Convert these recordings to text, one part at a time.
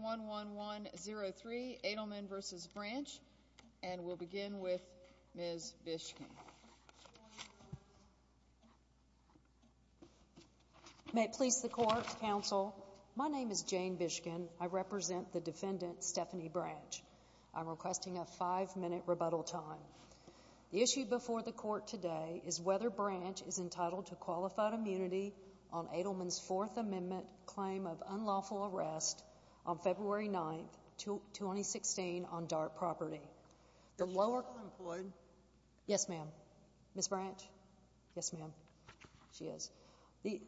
1-1-1-0-3 Adelman v. Branch, and we'll begin with Ms. Bishkin. May it please the Court, Counsel. My name is Jane Bishkin. I represent the defendant, Stephanie Branch. I'm requesting a five-minute rebuttal time. The issue before the Court today is whether Branch is entitled to be released on February 9, 2016, on dark property. Yes, ma'am. Ms. Branch? Yes, ma'am. She is. The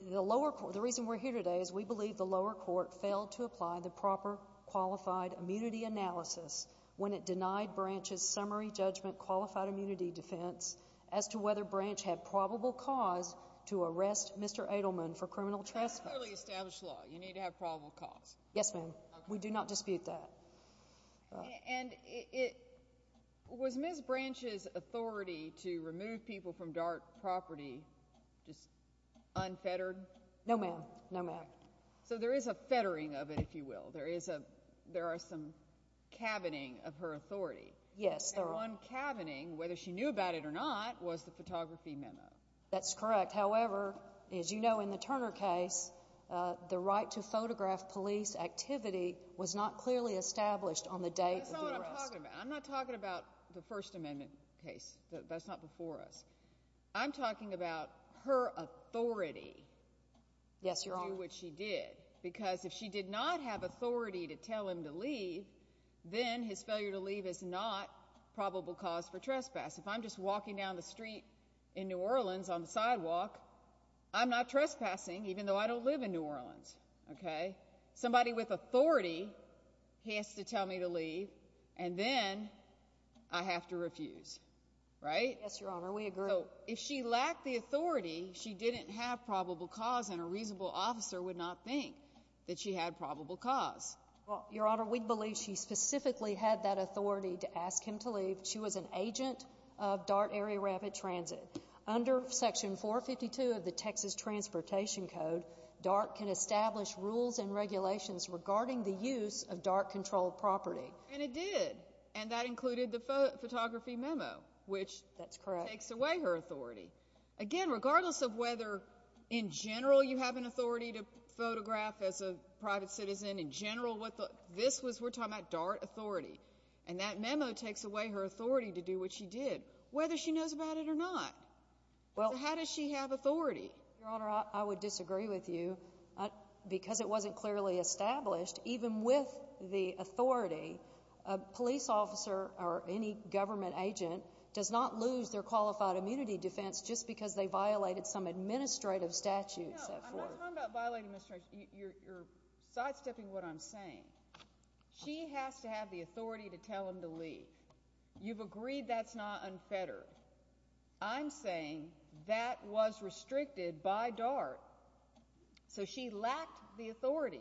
reason we're here today is we believe the lower court failed to apply the proper qualified immunity analysis when it denied Branch's summary judgment qualified immunity defense as to whether Branch had probable cause to arrest Mr. Adelman for criminal trespass. That's clearly established law. You need to have probable cause. Yes, ma'am. We do not dispute that. And was Ms. Branch's authority to remove people from dark property just unfettered? No, ma'am. No, ma'am. So there is a fettering of it, if you will. There are some cabining of her authority. Yes, there are. And one cabining, whether she knew about it or not, was the photography memo. That's correct. However, as you know, in the Turner case, the right to photograph police activity was not clearly established on the date of the arrest. That's not what I'm talking about. I'm not talking about the First Amendment case. That's not before us. I'm talking about her authority to do what she did. Because if she did not have authority to tell him to leave, then his failure to leave is not probable cause for trespass. If I'm just walking down the street in New Orleans on the sidewalk, I'm not trespassing, even though I don't live in New Orleans. Okay? Somebody with authority has to tell me to leave, and then I have to refuse. Right? Yes, Your Honor. We agree. So if she lacked the authority, she didn't have probable cause, and a reasonable officer would not think that she had probable cause. Well, Your Honor, we believe she specifically had that authority to ask him to leave. She was an agent of DART Area Rapid Transit. Under Section 452 of the Texas Transportation Code, DART can establish rules and regulations regarding the use of DART-controlled property. And it did. And that included the photography memo, which takes away her authority. Again, regardless of whether, in general, you have an authority to photograph as a private citizen, in general, what the—this was—we're talking about DART authority. And that memo takes away her authority to do what she did, whether she knows about it or not. So how does she have authority? Your Honor, I would disagree with you. Because it wasn't clearly established, even with the authority, a police officer or any government agent does not lose their qualified immunity defense just because they violated some administrative statutes. No, I'm not talking about violating administrative—you're sidestepping what I'm saying. She has to have the authority to tell him to leave. You've agreed that's not unfettered. I'm saying that was restricted by DART. So she lacked the authority.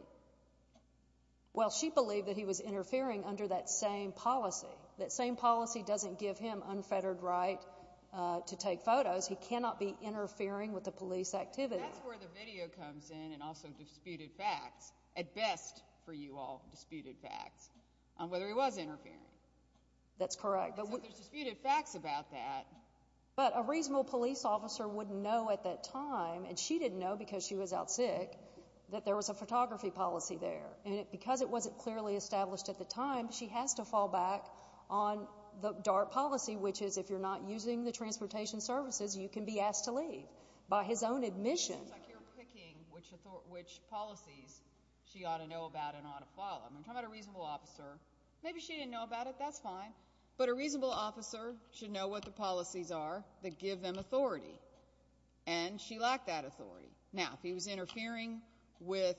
Well, she believed that he was interfering under that same policy. That same policy doesn't give him unfettered right to take photos. He cannot be interfering with the police activity. That's where the video comes in and also disputed facts, at best for you all, disputed facts, on whether he was interfering. That's correct. So there's disputed facts about that. But a reasonable police officer would know at that time, and she didn't know because she was out sick, that there was a photography policy there. And because it wasn't clearly established at the time, she has to fall back on the DART policy, which is if you're not using the transportation services, you can be asked to leave by his own admission. It seems like you're picking which policies she ought to know about and ought to follow. I'm talking about a reasonable officer. Maybe she didn't know about it. That's fine. But a reasonable officer should know what the policies are that give them authority. And she lacked that authority. Now, if he was interfering with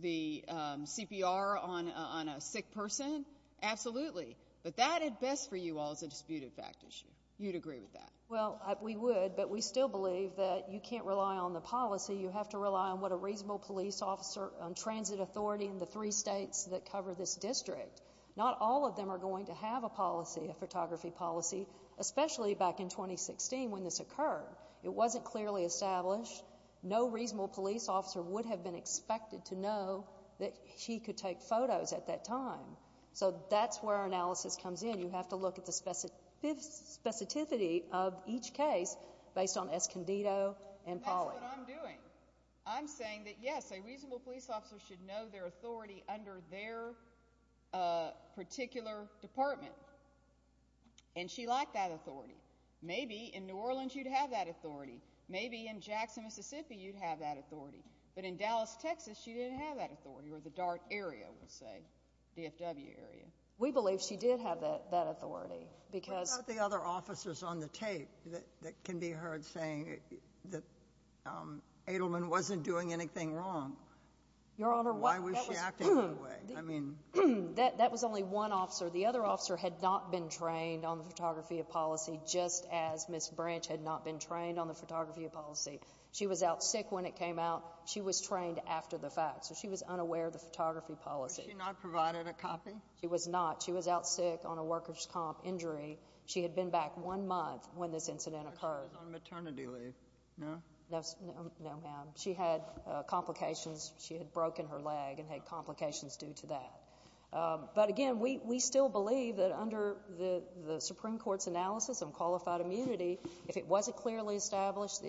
the CPR on a sick person, absolutely. But that, at best for you all, is a disputed fact issue. You'd agree with that. Well, we would. But we still believe that you can't rely on the policy. You have to rely on what a reasonable police officer, on transit authority, and the three states that cover this district. Not all of them are going to have a policy, a photography policy, especially back in 2016 when this occurred. It wasn't clearly established. No reasonable police officer would have been expected to know that he could take photos at that time. So that's where our analysis comes in. You have to look at the specificity of each case based on Escondido and Pollock. That's what I'm doing. I'm saying that, yes, a reasonable police officer should know their authority under their particular department. And she lacked that authority. Maybe in New Orleans you'd have that authority. Maybe in Jackson, Mississippi you'd have that authority. But in Dallas, Texas, she didn't have that authority, or the DART area, we'll say, DFW area. We believe she did have that authority. What about the other officers on the tape that can be heard saying that Edelman wasn't doing anything wrong? Why was she acting that way? That was only one officer. The other officer had not been trained on the photography policy, just as Ms. Branch had not been trained on the photography policy. She was out sick when it came out. She was trained after the fact. So she was unaware of the photography policy. Was she not provided a copy? She was not. She was out sick on a workers' comp injury. She had been back one month when this incident occurred. She was on maternity leave, no? No, ma'am. She had complications. She had broken her leg and had complications due to that. But, again, we still believe that under the Supreme Court's analysis of qualified immunity, if it wasn't clearly established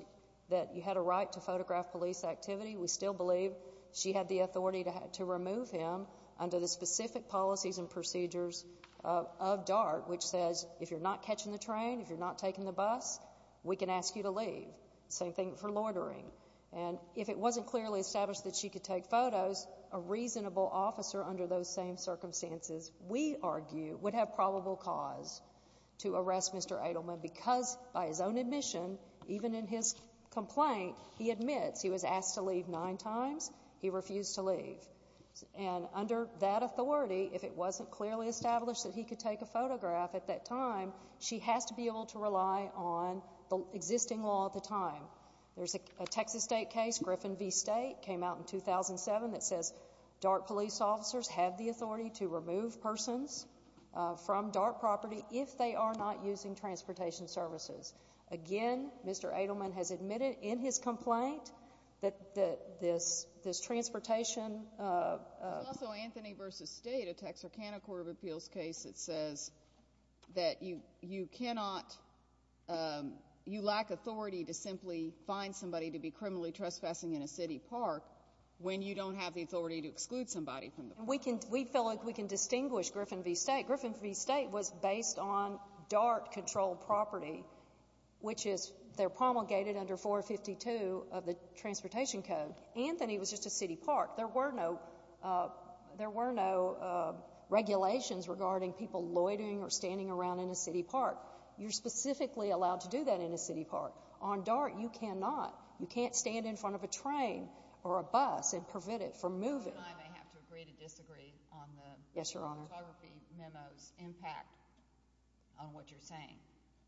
that you had a right to photograph police activity, we still believe she had the authority to remove him under the specific policies and procedures of DART, which says if you're not catching the train, if you're not taking the bus, we can ask you to leave. Same thing for loitering. And if it wasn't clearly established that she could take photos, a reasonable officer under those same circumstances, we argue, would have probable cause to arrest Mr. Edelman because, by his own admission, even in his complaint, he admits he was asked to leave nine times. He refused to leave. And under that authority, if it wasn't clearly established that he could take a photograph at that time, she has to be able to rely on the existing law at the time. There's a Texas state case, Griffin v. State, came out in 2007, that says DART police officers have the authority to remove persons from DART property if they are not using transportation services. Again, Mr. Edelman has admitted in his complaint that this transportation— There's also Anthony v. State, a Texarkana Court of Appeals case, that says that you cannot—you lack authority to simply find somebody to be criminally trespassing in a city park when you don't have the authority to exclude somebody from the park. We feel like we can distinguish Griffin v. State. Griffin v. State was based on DART-controlled property, which is—they're promulgated under 452 of the Transportation Code. Anthony was just a city park. There were no regulations regarding people loitering or standing around in a city park. You're specifically allowed to do that in a city park. On DART, you cannot. You can't stand in front of a train or a bus and prevent it from moving. You and I may have to agree to disagree on the photography memo's impact on what you're saying.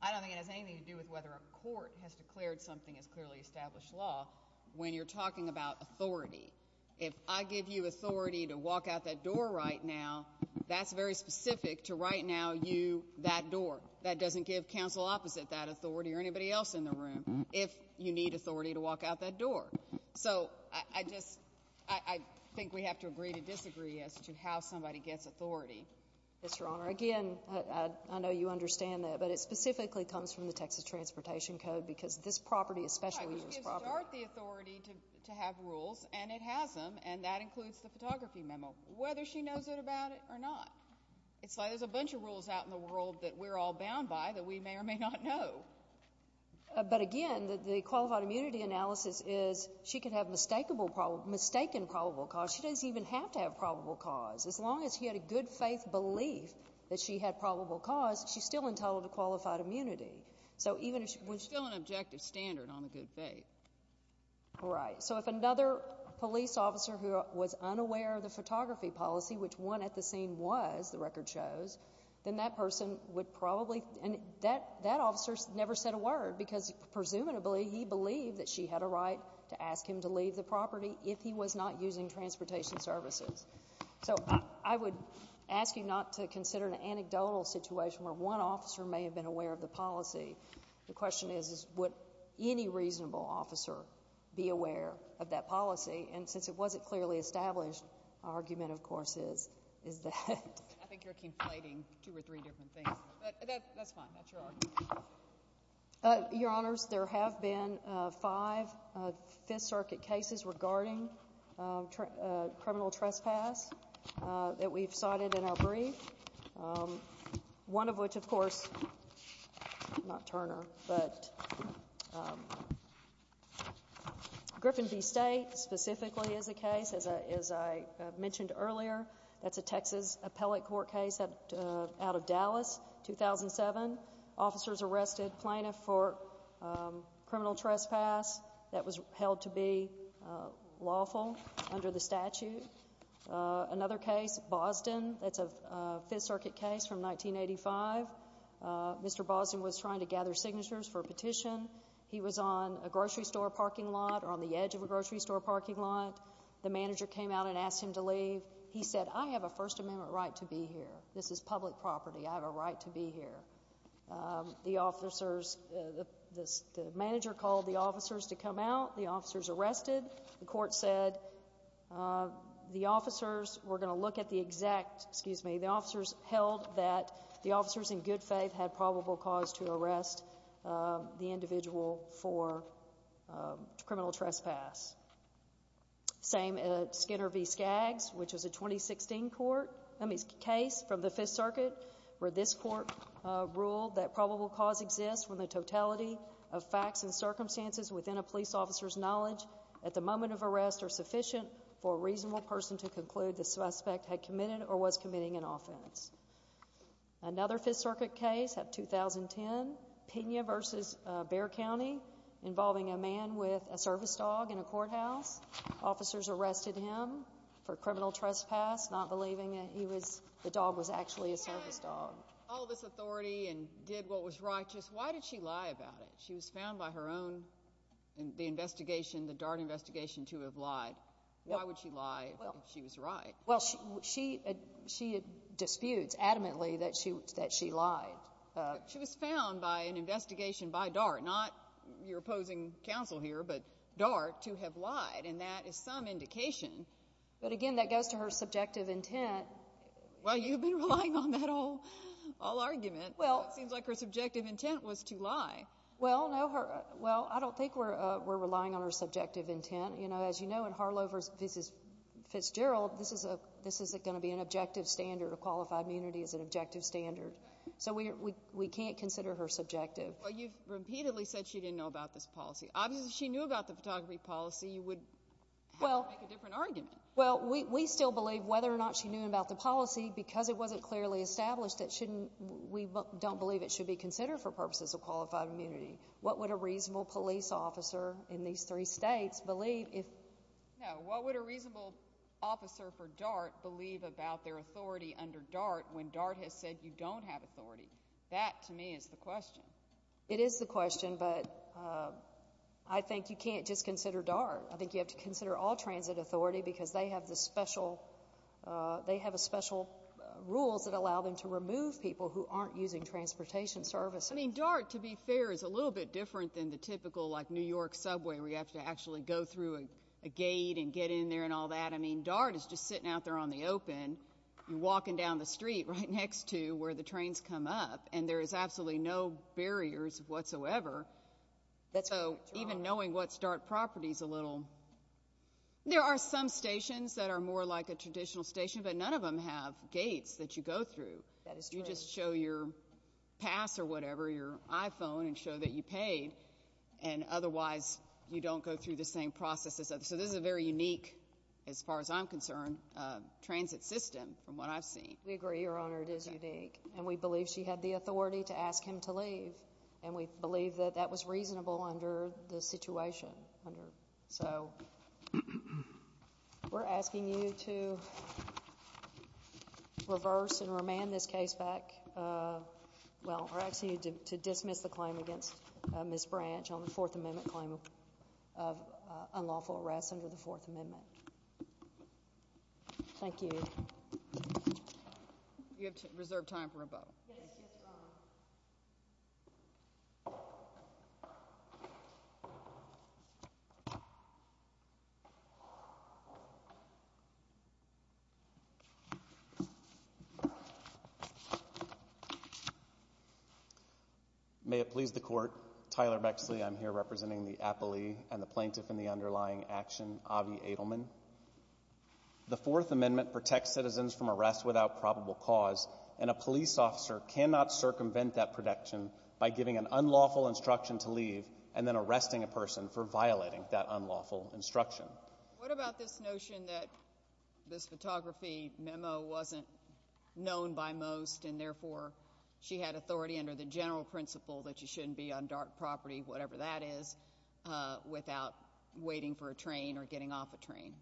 I don't think it has anything to do with whether a court has declared something as clearly established law. When you're talking about authority, if I give you authority to walk out that door right now, that's very specific to right now you that door. That doesn't give counsel opposite that authority or anybody else in the room if you need authority to walk out that door. So I just—I think we have to agree to disagree as to how somebody gets authority. Yes, Your Honor. Again, I know you understand that, but it specifically comes from the Texas Transportation Code because this property, especially this property— Right, but you give DART the authority to have rules, and it has them, and that includes the photography memo, whether she knows it about it or not. It's like there's a bunch of rules out in the world that we're all bound by that we may or may not know. But again, the qualified immunity analysis is she could have mistaken probable cause. She doesn't even have to have probable cause. As long as she had a good-faith belief that she had probable cause, she's still entitled to qualified immunity. There's still an objective standard on the good faith. Right. So if another police officer who was unaware of the photography policy, which one at the scene was, the record shows, then that person would probably—and that officer never said a word because presumably he believed that she had a right to ask him to leave the property if he was not using transportation services. So I would ask you not to consider an anecdotal situation where one officer may have been aware of the policy. The question is, would any reasonable officer be aware of that policy? And since it wasn't clearly established, our argument, of course, is that. I think you're conflating two or three different things, but that's fine. That's your argument. Your Honors, there have been five Fifth Circuit cases regarding criminal trespass that we've cited in our brief, one of which, of course, not Turner, but Griffin v. State specifically is a case. As I mentioned earlier, that's a Texas appellate court case out of Dallas, 2007. Officers arrested plaintiff for criminal trespass that was held to be lawful under the statute. Another case, Boston, that's a Fifth Circuit case from 1985. Mr. Boston was trying to gather signatures for a petition. He was on a grocery store parking lot or on the edge of a grocery store parking lot. The manager came out and asked him to leave. He said, I have a First Amendment right to be here. This is public property. I have a right to be here. The officers, the manager called the officers to come out. The officers arrested. The court said the officers were going to look at the exact, excuse me, the officers held that the officers in good faith had probable cause to arrest the individual for criminal trespass. Same at Skinner v. Skaggs, which is a 2016 court case from the Fifth Circuit, where this court ruled that probable cause exists when the totality of facts and circumstances within a police officer's knowledge at the moment of arrest are sufficient for a reasonable person to conclude the suspect had committed or was committing an offense. Another Fifth Circuit case of 2010, Pena v. Bexar County, involving a man with a service dog in a courthouse. Officers arrested him for criminal trespass, not believing that the dog was actually a service dog. She had all this authority and did what was righteous. Why did she lie about it? She was found by her own in the investigation, the DART investigation, to have lied. Why would she lie if she was right? Well, she disputes adamantly that she lied. She was found by an investigation by DART, not your opposing counsel here, but DART, to have lied, and that is some indication. But, again, that goes to her subjective intent. Well, you've been relying on that all argument. It seems like her subjective intent was to lie. Well, I don't think we're relying on her subjective intent. You know, as you know, in Harlovers v. Fitzgerald, this is going to be an objective standard. Qualified immunity is an objective standard. So we can't consider her subjective. Well, you've repeatedly said she didn't know about this policy. Obviously, if she knew about the photography policy, you would have to make a different argument. Well, we still believe whether or not she knew about the policy, because it wasn't clearly established, we don't believe it should be considered for purposes of qualified immunity. What would a reasonable police officer in these three states believe if— No, what would a reasonable officer for DART believe about their authority under DART when DART has said you don't have authority? That, to me, is the question. It is the question, but I think you can't just consider DART. I think you have to consider all transit authority, because they have special rules that allow them to remove people who aren't using transportation services. I mean, DART, to be fair, is a little bit different than the typical, like, New York subway where you have to actually go through a gate and get in there and all that. I mean, DART is just sitting out there on the open, you're walking down the street right next to where the trains come up, and there is absolutely no barriers whatsoever. So even knowing what's DART property is a little— There are some stations that are more like a traditional station, but none of them have gates that you go through. That is true. You can't just show your pass or whatever, your iPhone, and show that you paid, and otherwise you don't go through the same processes. So this is a very unique, as far as I'm concerned, transit system from what I've seen. We agree, Your Honor. It is unique. And we believe she had the authority to ask him to leave, and we believe that that was reasonable under the situation. So we're asking you to reverse and remand this case back. Well, we're asking you to dismiss the claim against Ms. Branch on the Fourth Amendment claim of unlawful arrest under the Fourth Amendment. Thank you. You have reserved time for a vote. Yes, Your Honor. Thank you. May it please the Court, Tyler Bexley. I'm here representing the appellee and the plaintiff in the underlying action, Avi Adelman. The Fourth Amendment protects citizens from arrest without probable cause, and a police officer cannot circumvent that protection by giving an unlawful instruction to leave and then arresting a person for violating that unlawful instruction. What about this notion that this photography memo wasn't known by most, and therefore she had authority under the general principle that you shouldn't be on dark property, whatever that is, without waiting for a train or getting off a train?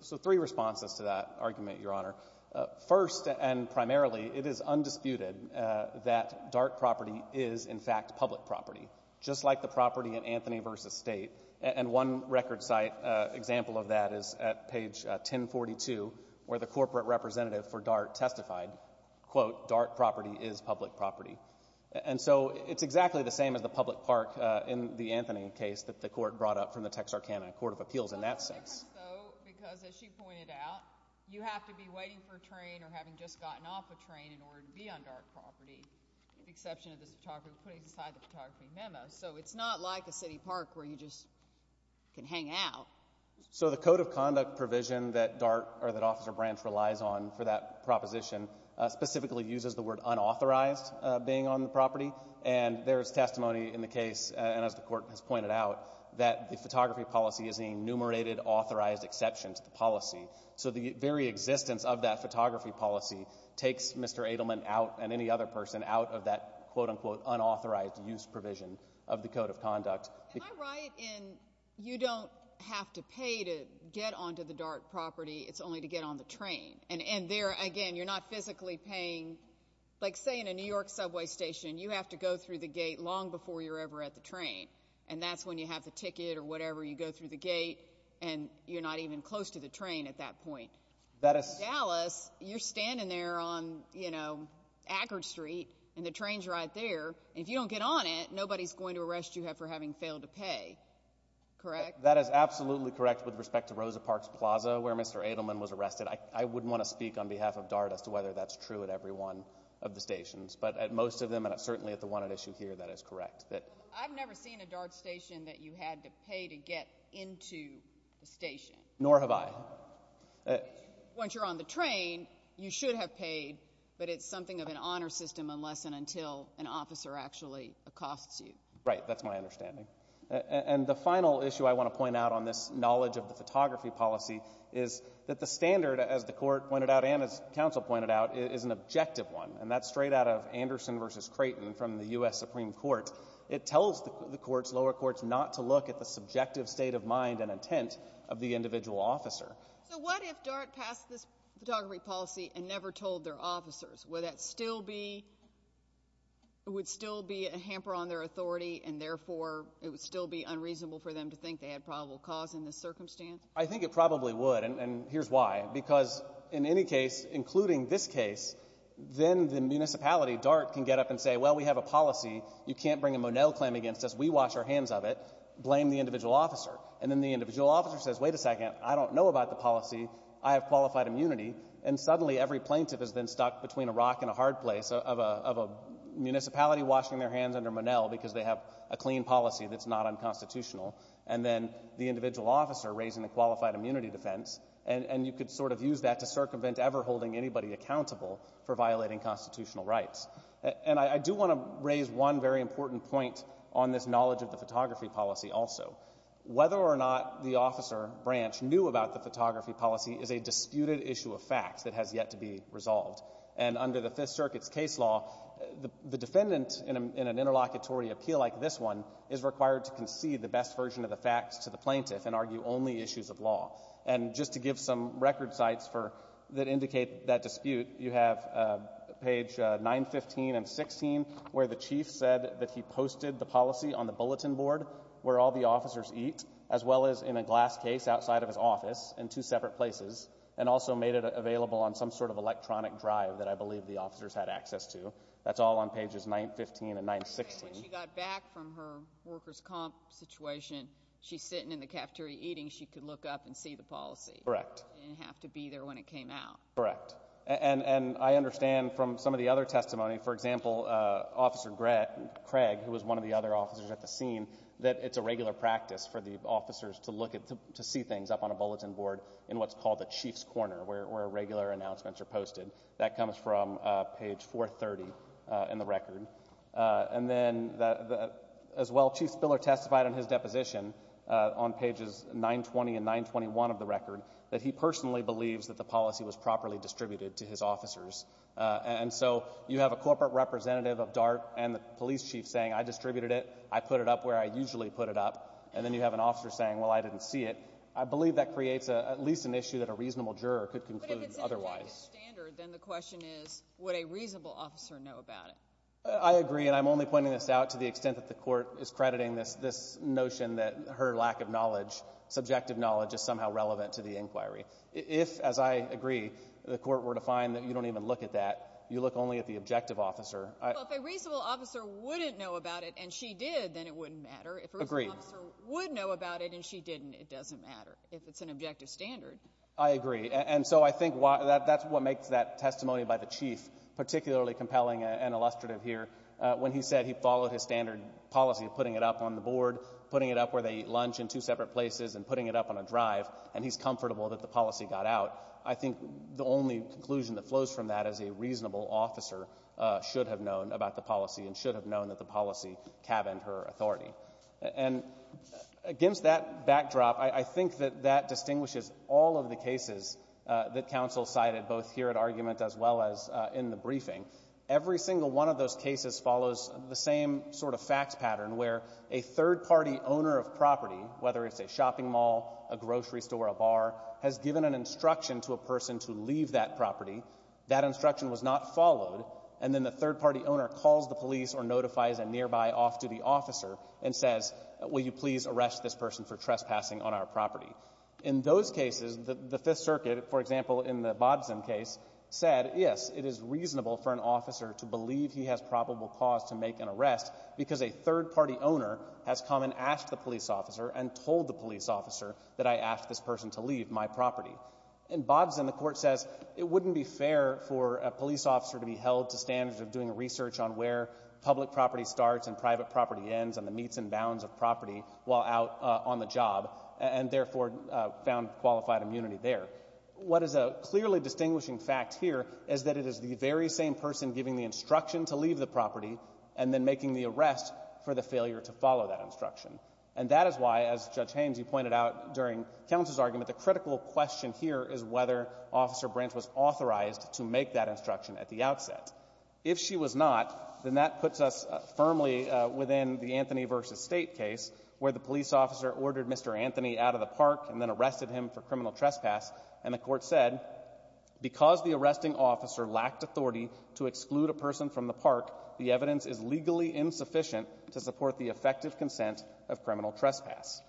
So three responses to that argument, Your Honor. First and primarily, it is undisputed that dark property is, in fact, public property. Just like the property in Anthony v. State, and one record site example of that is at page 1042, where the corporate representative for DART testified, quote, dark property is public property. And so it's exactly the same as the public park in the Anthony case that the Court brought up from the Texarkana Court of Appeals in that sense. So there's a difference, though, because as she pointed out, you have to be waiting for a train or having just gotten off a train in order to be on dark property, with the exception of this photographer putting aside the photography memo. So it's not like a city park where you just can hang out. So the code of conduct provision that DART or that Officer Branch relies on for that proposition specifically uses the word unauthorized being on the property, and there is testimony in the case, and as the Court has pointed out, that the photography policy is a enumerated authorized exception to the policy. So the very existence of that photography policy takes Mr. Edelman out and any other person out of that, quote, unquote, unauthorized use provision of the code of conduct. Am I right in you don't have to pay to get onto the dark property? It's only to get on the train. And there, again, you're not physically paying. Like, say, in a New York subway station, you have to go through the gate long before you're ever at the train, and that's when you have the ticket or whatever. You go through the gate, and you're not even close to the train at that point. In Dallas, you're standing there on, you know, Ackerd Street, and the train's right there, and if you don't get on it, nobody's going to arrest you for having failed to pay, correct? That is absolutely correct with respect to Rosa Parks Plaza where Mr. Edelman was arrested. I wouldn't want to speak on behalf of DART as to whether that's true at every one of the stations, but at most of them, and certainly at the one at issue here, that is correct. I've never seen a DART station that you had to pay to get into the station. Nor have I. Once you're on the train, you should have paid, but it's something of an honor system unless and until an officer actually accosts you. Right. That's my understanding. And the final issue I want to point out on this knowledge of the photography policy is that the standard, as the court pointed out and as counsel pointed out, is an objective one, and that's straight out of Anderson v. Creighton from the U.S. Supreme Court. It tells the courts, lower courts, not to look at the subjective state of mind and intent of the individual officer. So what if DART passed this photography policy and never told their officers? Would that still be a hamper on their authority, and therefore it would still be unreasonable for them to think they had probable cause in this circumstance? I think it probably would, and here's why. Because in any case, including this case, then the municipality, DART, can get up and say, Well, we have a policy. You can't bring a Monell claim against us. We wash our hands of it. Blame the individual officer. And then the individual officer says, Wait a second. I don't know about the policy. I have qualified immunity. And suddenly every plaintiff has been stuck between a rock and a hard place of a municipality washing their hands under Monell because they have a clean policy that's not unconstitutional, and then the individual officer raising the qualified immunity defense, and you could sort of use that to circumvent ever holding anybody accountable for violating constitutional rights. And I do want to raise one very important point on this knowledge of the photography policy also. Whether or not the officer branch knew about the photography policy is a disputed issue of fact that has yet to be resolved. And under the Fifth Circuit's case law, the defendant in an interlocutory appeal like this one is required to concede the best version of the facts to the plaintiff and argue only issues of law. And just to give some record sites that indicate that dispute, you have page 915 and 916 where the chief said that he posted the policy on the bulletin board where all the officers eat as well as in a glass case outside of his office in two separate places and also made it available on some sort of electronic drive that I believe the officers had access to. That's all on pages 915 and 916. When she got back from her workers' comp situation, she's sitting in the cafeteria eating. She could look up and see the policy. Correct. She didn't have to be there when it came out. Correct. And I understand from some of the other testimony, for example, Officer Craig, who was one of the other officers at the scene, that it's a regular practice for the officers to look at, to see things up on a bulletin board in what's called the chief's corner where regular announcements are posted. That comes from page 430 in the record. And then as well, Chief Spiller testified in his deposition on pages 920 and 921 of the record that he personally believes that the policy was properly distributed to his officers. And so you have a corporate representative of DART and the police chief saying, I distributed it, I put it up where I usually put it up, and then you have an officer saying, well, I didn't see it. I believe that creates at least an issue that a reasonable juror could conclude otherwise. But if it's an objective standard, then the question is, would a reasonable officer know about it? I agree, and I'm only pointing this out to the extent that the court is crediting this notion that her lack of knowledge, subjective knowledge, is somehow relevant to the inquiry. If, as I agree, the court were to find that you don't even look at that, you look only at the objective officer. Well, if a reasonable officer wouldn't know about it and she did, then it wouldn't matter. Agreed. If a reasonable officer would know about it and she didn't, it doesn't matter if it's an objective standard. I agree, and so I think that's what makes that testimony by the chief particularly compelling and illustrative here when he said he followed his standard policy of putting it up on the board, putting it up where they eat lunch in two separate places, and putting it up on a drive, and he's comfortable that the policy got out. I think the only conclusion that flows from that is a reasonable officer should have known about the policy and should have known that the policy cabined her authority. And against that backdrop, I think that that distinguishes all of the cases that counsel cited both here at argument as well as in the briefing. Every single one of those cases follows the same sort of fact pattern where a third-party owner of property, whether it's a shopping mall, a grocery store, a bar, has given an instruction to a person to leave that property. That instruction was not followed, and then the third-party owner calls the police or notifies a nearby off-duty officer and says, will you please arrest this person for trespassing on our property? In those cases, the Fifth Circuit, for example, in the Bodzin case, said, yes, it is reasonable for an officer to believe he has probable cause to make an arrest because a third-party owner has come and asked the police officer and told the police officer that I asked this person to leave my property. In Bodzin, the court says it wouldn't be fair for a police officer to be held to standards of doing research on where public property starts and private property ends and the meets and bounds of property while out on the job, and therefore found qualified immunity there. What is a clearly distinguishing fact here is that it is the very same person giving the instruction to leave the property and then making the arrest for the failure to follow that instruction. And that is why, as Judge Haynes, you pointed out during Counsel's argument, the critical question here is whether Officer Branch was authorized to make that instruction at the outset. If she was not, then that puts us firmly within the Anthony v. State case where the police officer ordered Mr. Anthony out of the park and then arrested him for criminal trespass and the court said, because the arresting officer lacked authority to exclude a person from the park, the evidence is legally insufficient to support the effective consent of criminal trespass.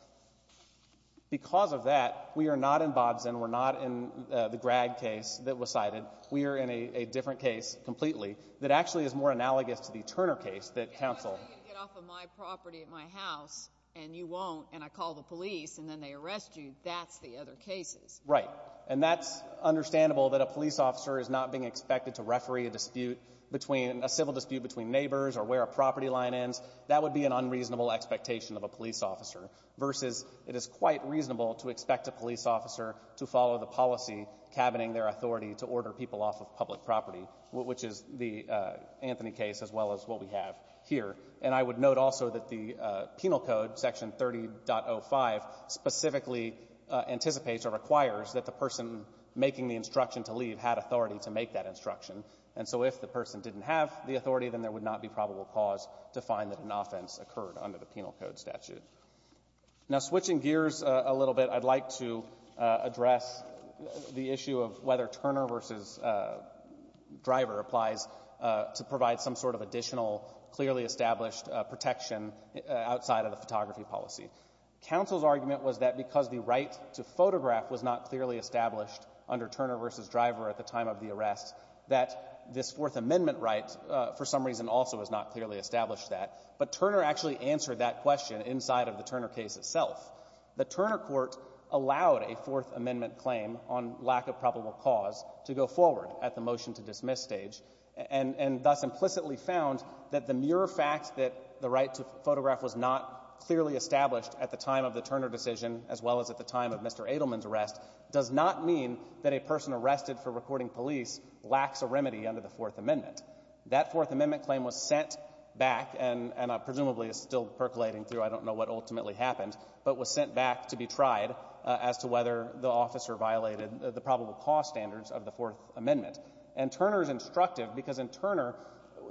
Because of that, we are not in Bodzin. We're not in the Grad case that was cited. We are in a different case completely that actually is more analogous to the Turner case that Counsel— If I tell you to get off of my property at my house and you won't and I call the police and then they arrest you, that's the other cases. Right. And that's understandable that a police officer is not being expected to referee a dispute between — a civil dispute between neighbors or where a property line ends. That would be an unreasonable expectation of a police officer, versus it is quite reasonable to expect a police officer to follow the policy cabining their authority to order people off of public property, which is the Anthony case as well as what we have here. And I would note also that the penal code, Section 30.05, specifically anticipates or requires that the person making the instruction to leave had authority to make that instruction. And so if the person didn't have the authority, then there would not be probable cause to find that an offense occurred under the penal code statute. Now, switching gears a little bit, I'd like to address the issue of whether Turner v. Driver applies to provide some sort of additional clearly established protection outside of the photography policy. Counsel's argument was that because the right to photograph was not clearly established under Turner v. Driver at the time of the arrest, that this Fourth Amendment right for some reason also was not clearly established to that. But Turner actually answered that question inside of the Turner case itself. The Turner court allowed a Fourth Amendment claim on lack of probable cause to go forward at the motion-to-dismiss stage, and thus implicitly found that the mere fact that the Turner decision, as well as at the time of Mr. Edelman's arrest, does not mean that a person arrested for recording police lacks a remedy under the Fourth Amendment. That Fourth Amendment claim was sent back and presumably is still percolating through. I don't know what ultimately happened, but was sent back to be tried as to whether the officer violated the probable cause standards of the Fourth Amendment. And Turner is instructive because in Turner,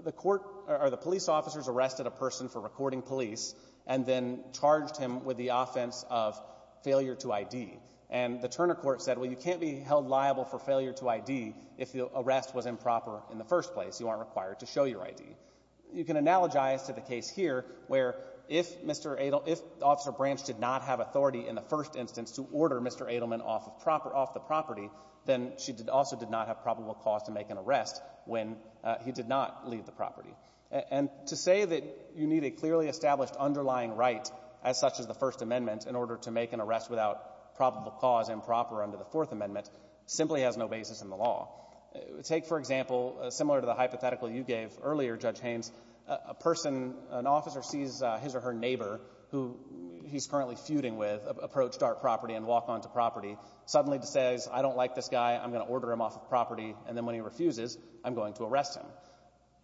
the court or the police officers arrested a person for recording police and then charged him with the offense of failure to ID. And the Turner court said, well, you can't be held liable for failure to ID if the arrest was improper in the first place. You aren't required to show your ID. You can analogize to the case here where if Mr. Edelman, if Officer Branch did not have authority in the first instance to order Mr. Edelman off the property, then she also did not have probable cause to make an arrest when he did not leave the property. And to say that you need a clearly established underlying right as such as the First Amendment in order to make an arrest without probable cause improper under the Fourth Amendment simply has no basis in the law. Take, for example, similar to the hypothetical you gave earlier, Judge Haynes, a person — an officer sees his or her neighbor who he's currently feuding with approach dark property and walk onto property, suddenly says, I don't like this guy, I'm going to order him off the property, and then when he refuses, I'm going to arrest him.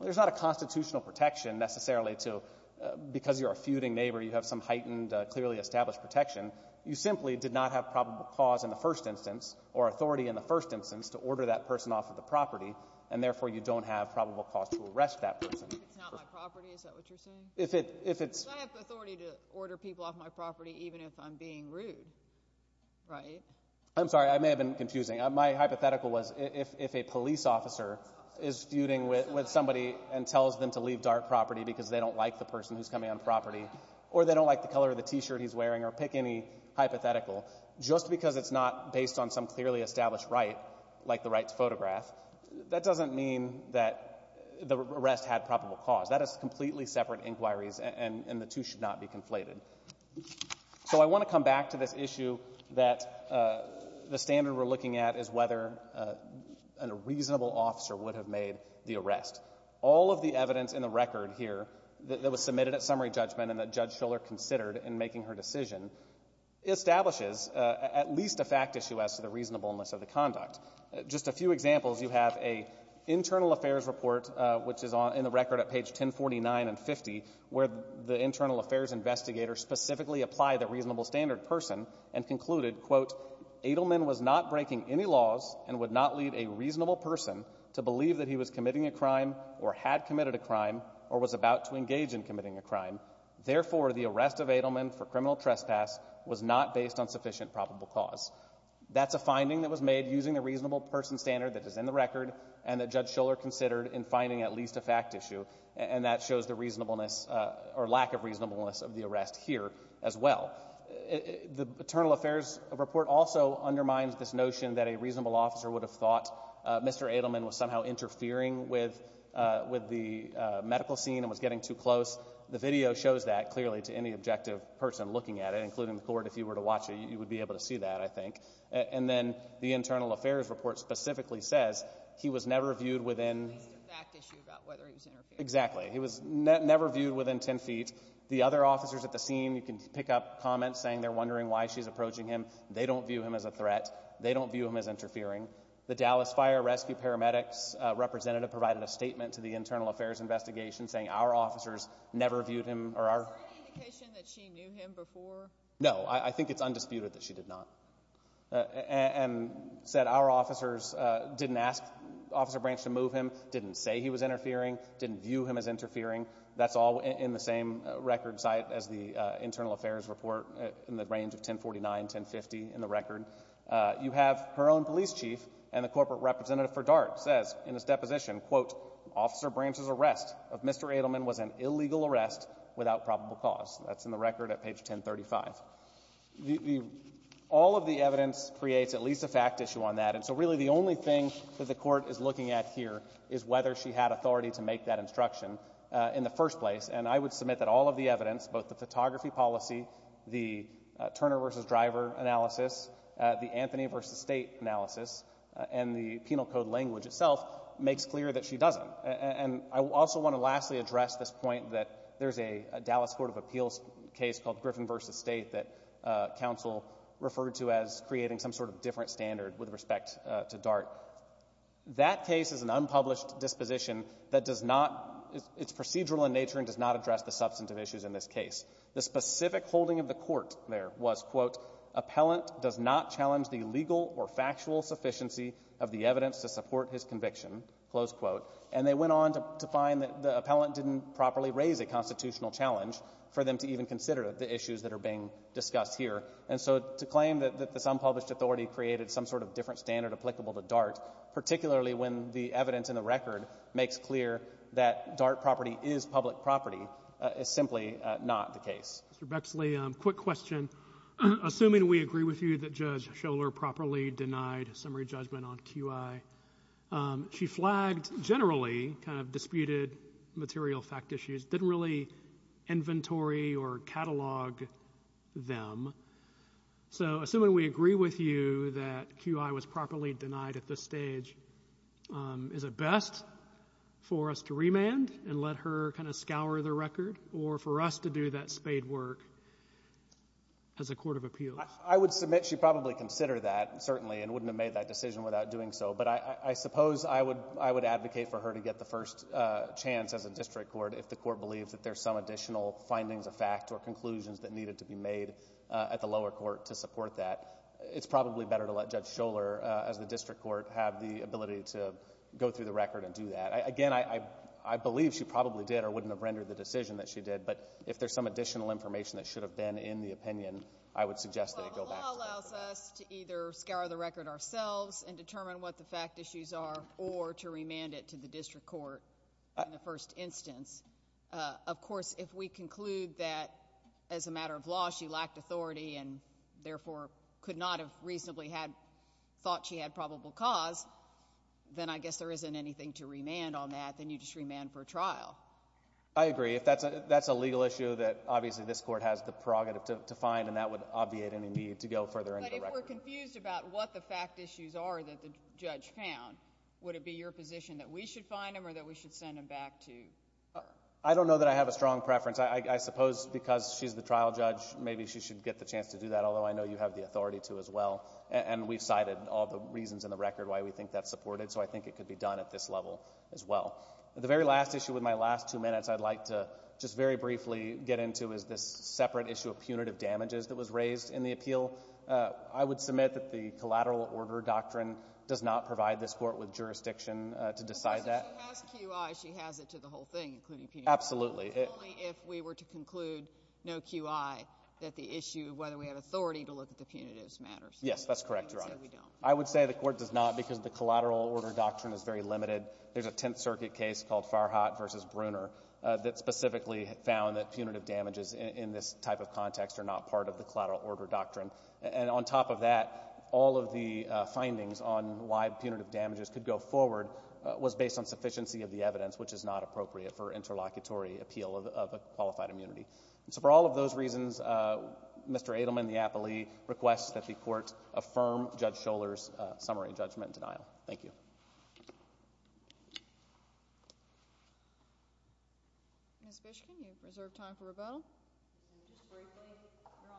There's not a constitutional protection necessarily to — because you're a feuding neighbor, you have some heightened, clearly established protection. You simply did not have probable cause in the first instance or authority in the first instance to order that person off of the property, and therefore you don't have probable cause to arrest that person. If it's not my property, is that what you're saying? If it's — I have authority to order people off my property even if I'm being rude, right? I'm sorry. I may have been confusing. My hypothetical was if a police officer is feuding with somebody and tells them to leave dark property because they don't like the person who's coming on property or they don't like the color of the T-shirt he's wearing or pick any hypothetical, just because it's not based on some clearly established right, like the right to photograph, that doesn't mean that the arrest had probable cause. That is completely separate inquiries, and the two should not be conflated. So I want to come back to this issue that the standard we're looking at is whether a reasonable officer would have made the arrest. All of the evidence in the record here that was submitted at summary judgment and that Judge Shuller considered in making her decision establishes at least a fact issue as to the reasonableness of the conduct. Just a few examples. You have an internal affairs report, which is in the record at page 1049 and 50, where the internal affairs investigator specifically applied the reasonable standard person and concluded, quote, Adelman was not breaking any laws and would not lead a reasonable person to believe that he was committing a crime or had committed a crime or was about to engage in committing a crime. Therefore, the arrest of Adelman for criminal trespass was not based on sufficient probable cause. That's a finding that was made using the reasonable person standard that is in the record and that Judge Shuller considered in finding at least a fact issue, and that shows the reasonableness or lack of reasonableness of the arrest here as well. The internal affairs report also undermines this notion that a reasonable officer would have thought Mr. Adelman was somehow interfering with the medical scene and was getting too close. The video shows that clearly to any objective person looking at it, including the court. If you were to watch it, you would be able to see that, I think. And then the internal affairs report specifically says he was never viewed within ten feet. At least a fact issue about whether he was interfering. Exactly. He was never viewed within ten feet. The other officers at the scene, you can pick up comments saying they're wondering why she's approaching him. They don't view him as a threat. They don't view him as interfering. The Dallas Fire Rescue Paramedics representative provided a statement to the internal affairs investigation saying our officers never viewed him. Is there any indication that she knew him before? No. I think it's undisputed that she did not. And said our officers didn't ask Officer Branch to move him, didn't say he was interfering, didn't view him as interfering. That's all in the same record site as the internal affairs report in the range of 1049, 1050 in the record. You have her own police chief and the corporate representative for DART says in his deposition, quote, Officer Branch's arrest of Mr. Adelman was an illegal arrest without probable cause. That's in the record at page 1035. All of the evidence creates at least a fact issue on that. And so really the only thing that the court is looking at here is whether she had authority to make that instruction in the first place. And I would submit that all of the evidence, both the photography policy, the Turner versus Driver analysis, the Anthony versus State analysis, and the penal code language itself makes clear that she doesn't. And I also want to lastly address this point that there's a Dallas Court of Appeals case in the state that counsel referred to as creating some sort of different standard with respect to DART. That case is an unpublished disposition that does not, it's procedural in nature and does not address the substantive issues in this case. The specific holding of the court there was, quote, Appellant does not challenge the legal or factual sufficiency of the evidence to support his conviction, close quote. And they went on to find that the appellant didn't properly raise a And so to claim that this unpublished authority created some sort of different standard applicable to DART, particularly when the evidence in the record makes clear that DART property is public property is simply not the case. Mr. Bexley, quick question. Assuming we agree with you that Judge Schoeller properly denied summary judgment on QI, she flagged generally kind of disputed material fact issues, didn't really inventory or catalog them. So assuming we agree with you that QI was properly denied at this stage, is it best for us to remand and let her kind of scour the record or for us to do that spade work as a court of appeals? I would submit she'd probably consider that, certainly, and wouldn't have made that decision without doing so. But I suppose I would advocate for her to get the first chance as a district court if the court believes that there's some additional findings of fact or conclusions that needed to be made at the lower court to support that. It's probably better to let Judge Schoeller as the district court have the ability to go through the record and do that. Again, I believe she probably did or wouldn't have rendered the decision that she did, but if there's some additional information that should have been in the opinion, I would suggest that it go back to her. Well, the law allows us to either scour the record ourselves and determine what the fact issues are or to remand it to the district court in the first instance. Of course, if we conclude that as a matter of law she lacked authority and therefore could not have reasonably thought she had probable cause, then I guess there isn't anything to remand on that. Then you just remand for trial. I agree. That's a legal issue that obviously this court has the prerogative to find, and that would obviate any need to go further into the record. But if we're confused about what the fact issues are that the judge found, would it be your position that we should find them or that we should send them back to her? I don't know that I have a strong preference. I suppose because she's the trial judge, maybe she should get the chance to do that, although I know you have the authority to as well. And we've cited all the reasons in the record why we think that's supported, so I think it could be done at this level as well. The very last issue with my last two minutes I'd like to just very briefly get into is this separate issue of punitive damages that was raised in the appeal. I would submit that the collateral order doctrine does not provide this court with jurisdiction to decide that. So she has QI. She has it to the whole thing, including punitive damages. Absolutely. Only if we were to conclude no QI that the issue of whether we have authority to look at the punitives matters. Yes, that's correct, Your Honor. I would say the court does not because the collateral order doctrine is very limited. There's a Tenth Circuit case called Farhat v. Bruner that specifically found that punitive damages in this type of context are not part of the collateral order doctrine. And on top of that, all of the findings on why punitive damages could go forward was based on sufficiency of the evidence, which is not appropriate for interlocutory appeal of a qualified immunity. So for all of those reasons, Mr. Adelman, the appellee, requests that the court affirm Judge Scholar's summary judgment in denial. Thank you. Ms. Bishkin, you have reserved time for rebuttal. Just briefly, Your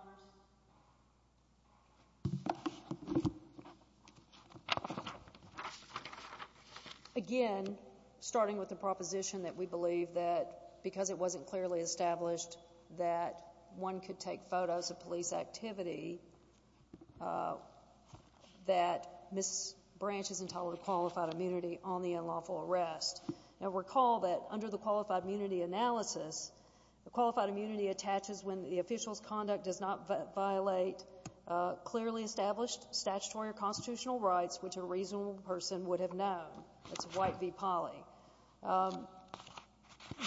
Honors. Again, starting with the proposition that we believe that because it wasn't clearly established that one could take photos of police activity, that Ms. Branch is entitled to qualified immunity on the unlawful arrest. Now, recall that under the qualified immunity analysis, the qualified immunity attaches when the official's conduct does not violate clearly established statutory or constitutional rights, which a reasonable person would have known. That's White v. Polley.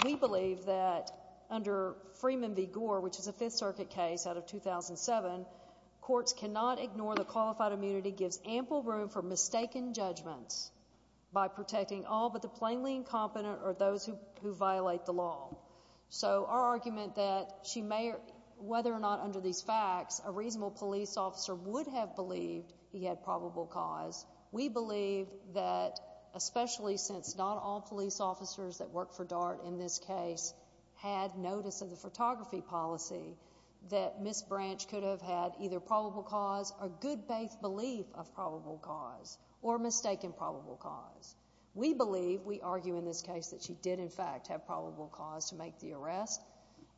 We believe that under Freeman v. Gore, which is a Fifth Circuit case out of 2007, courts cannot ignore the qualified immunity gives ample room for mistaken judgments by protecting all but the plainly incompetent or those who violate the law. So our argument that she may, whether or not under these facts, a reasonable police officer would have believed he had probable cause, we believe that especially since not all police officers that work for DART in this case had notice of the photography policy, that Ms. Branch could have had either probable cause or good faith belief of probable cause or mistaken probable cause. We believe, we argue in this case, that she did in fact have probable cause to make the arrest.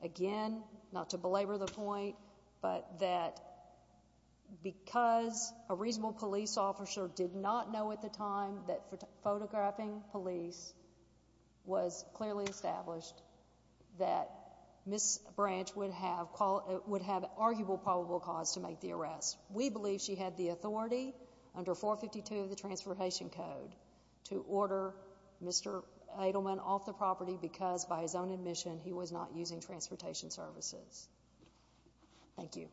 Again, not to belabor the point, but that because a reasonable police officer did not know at the time that photographing police was clearly established, that Ms. We believe she had the authority under 452 of the Transportation Code to order Mr. Adelman off the property because by his own admission he was not using transportation services. Thank you.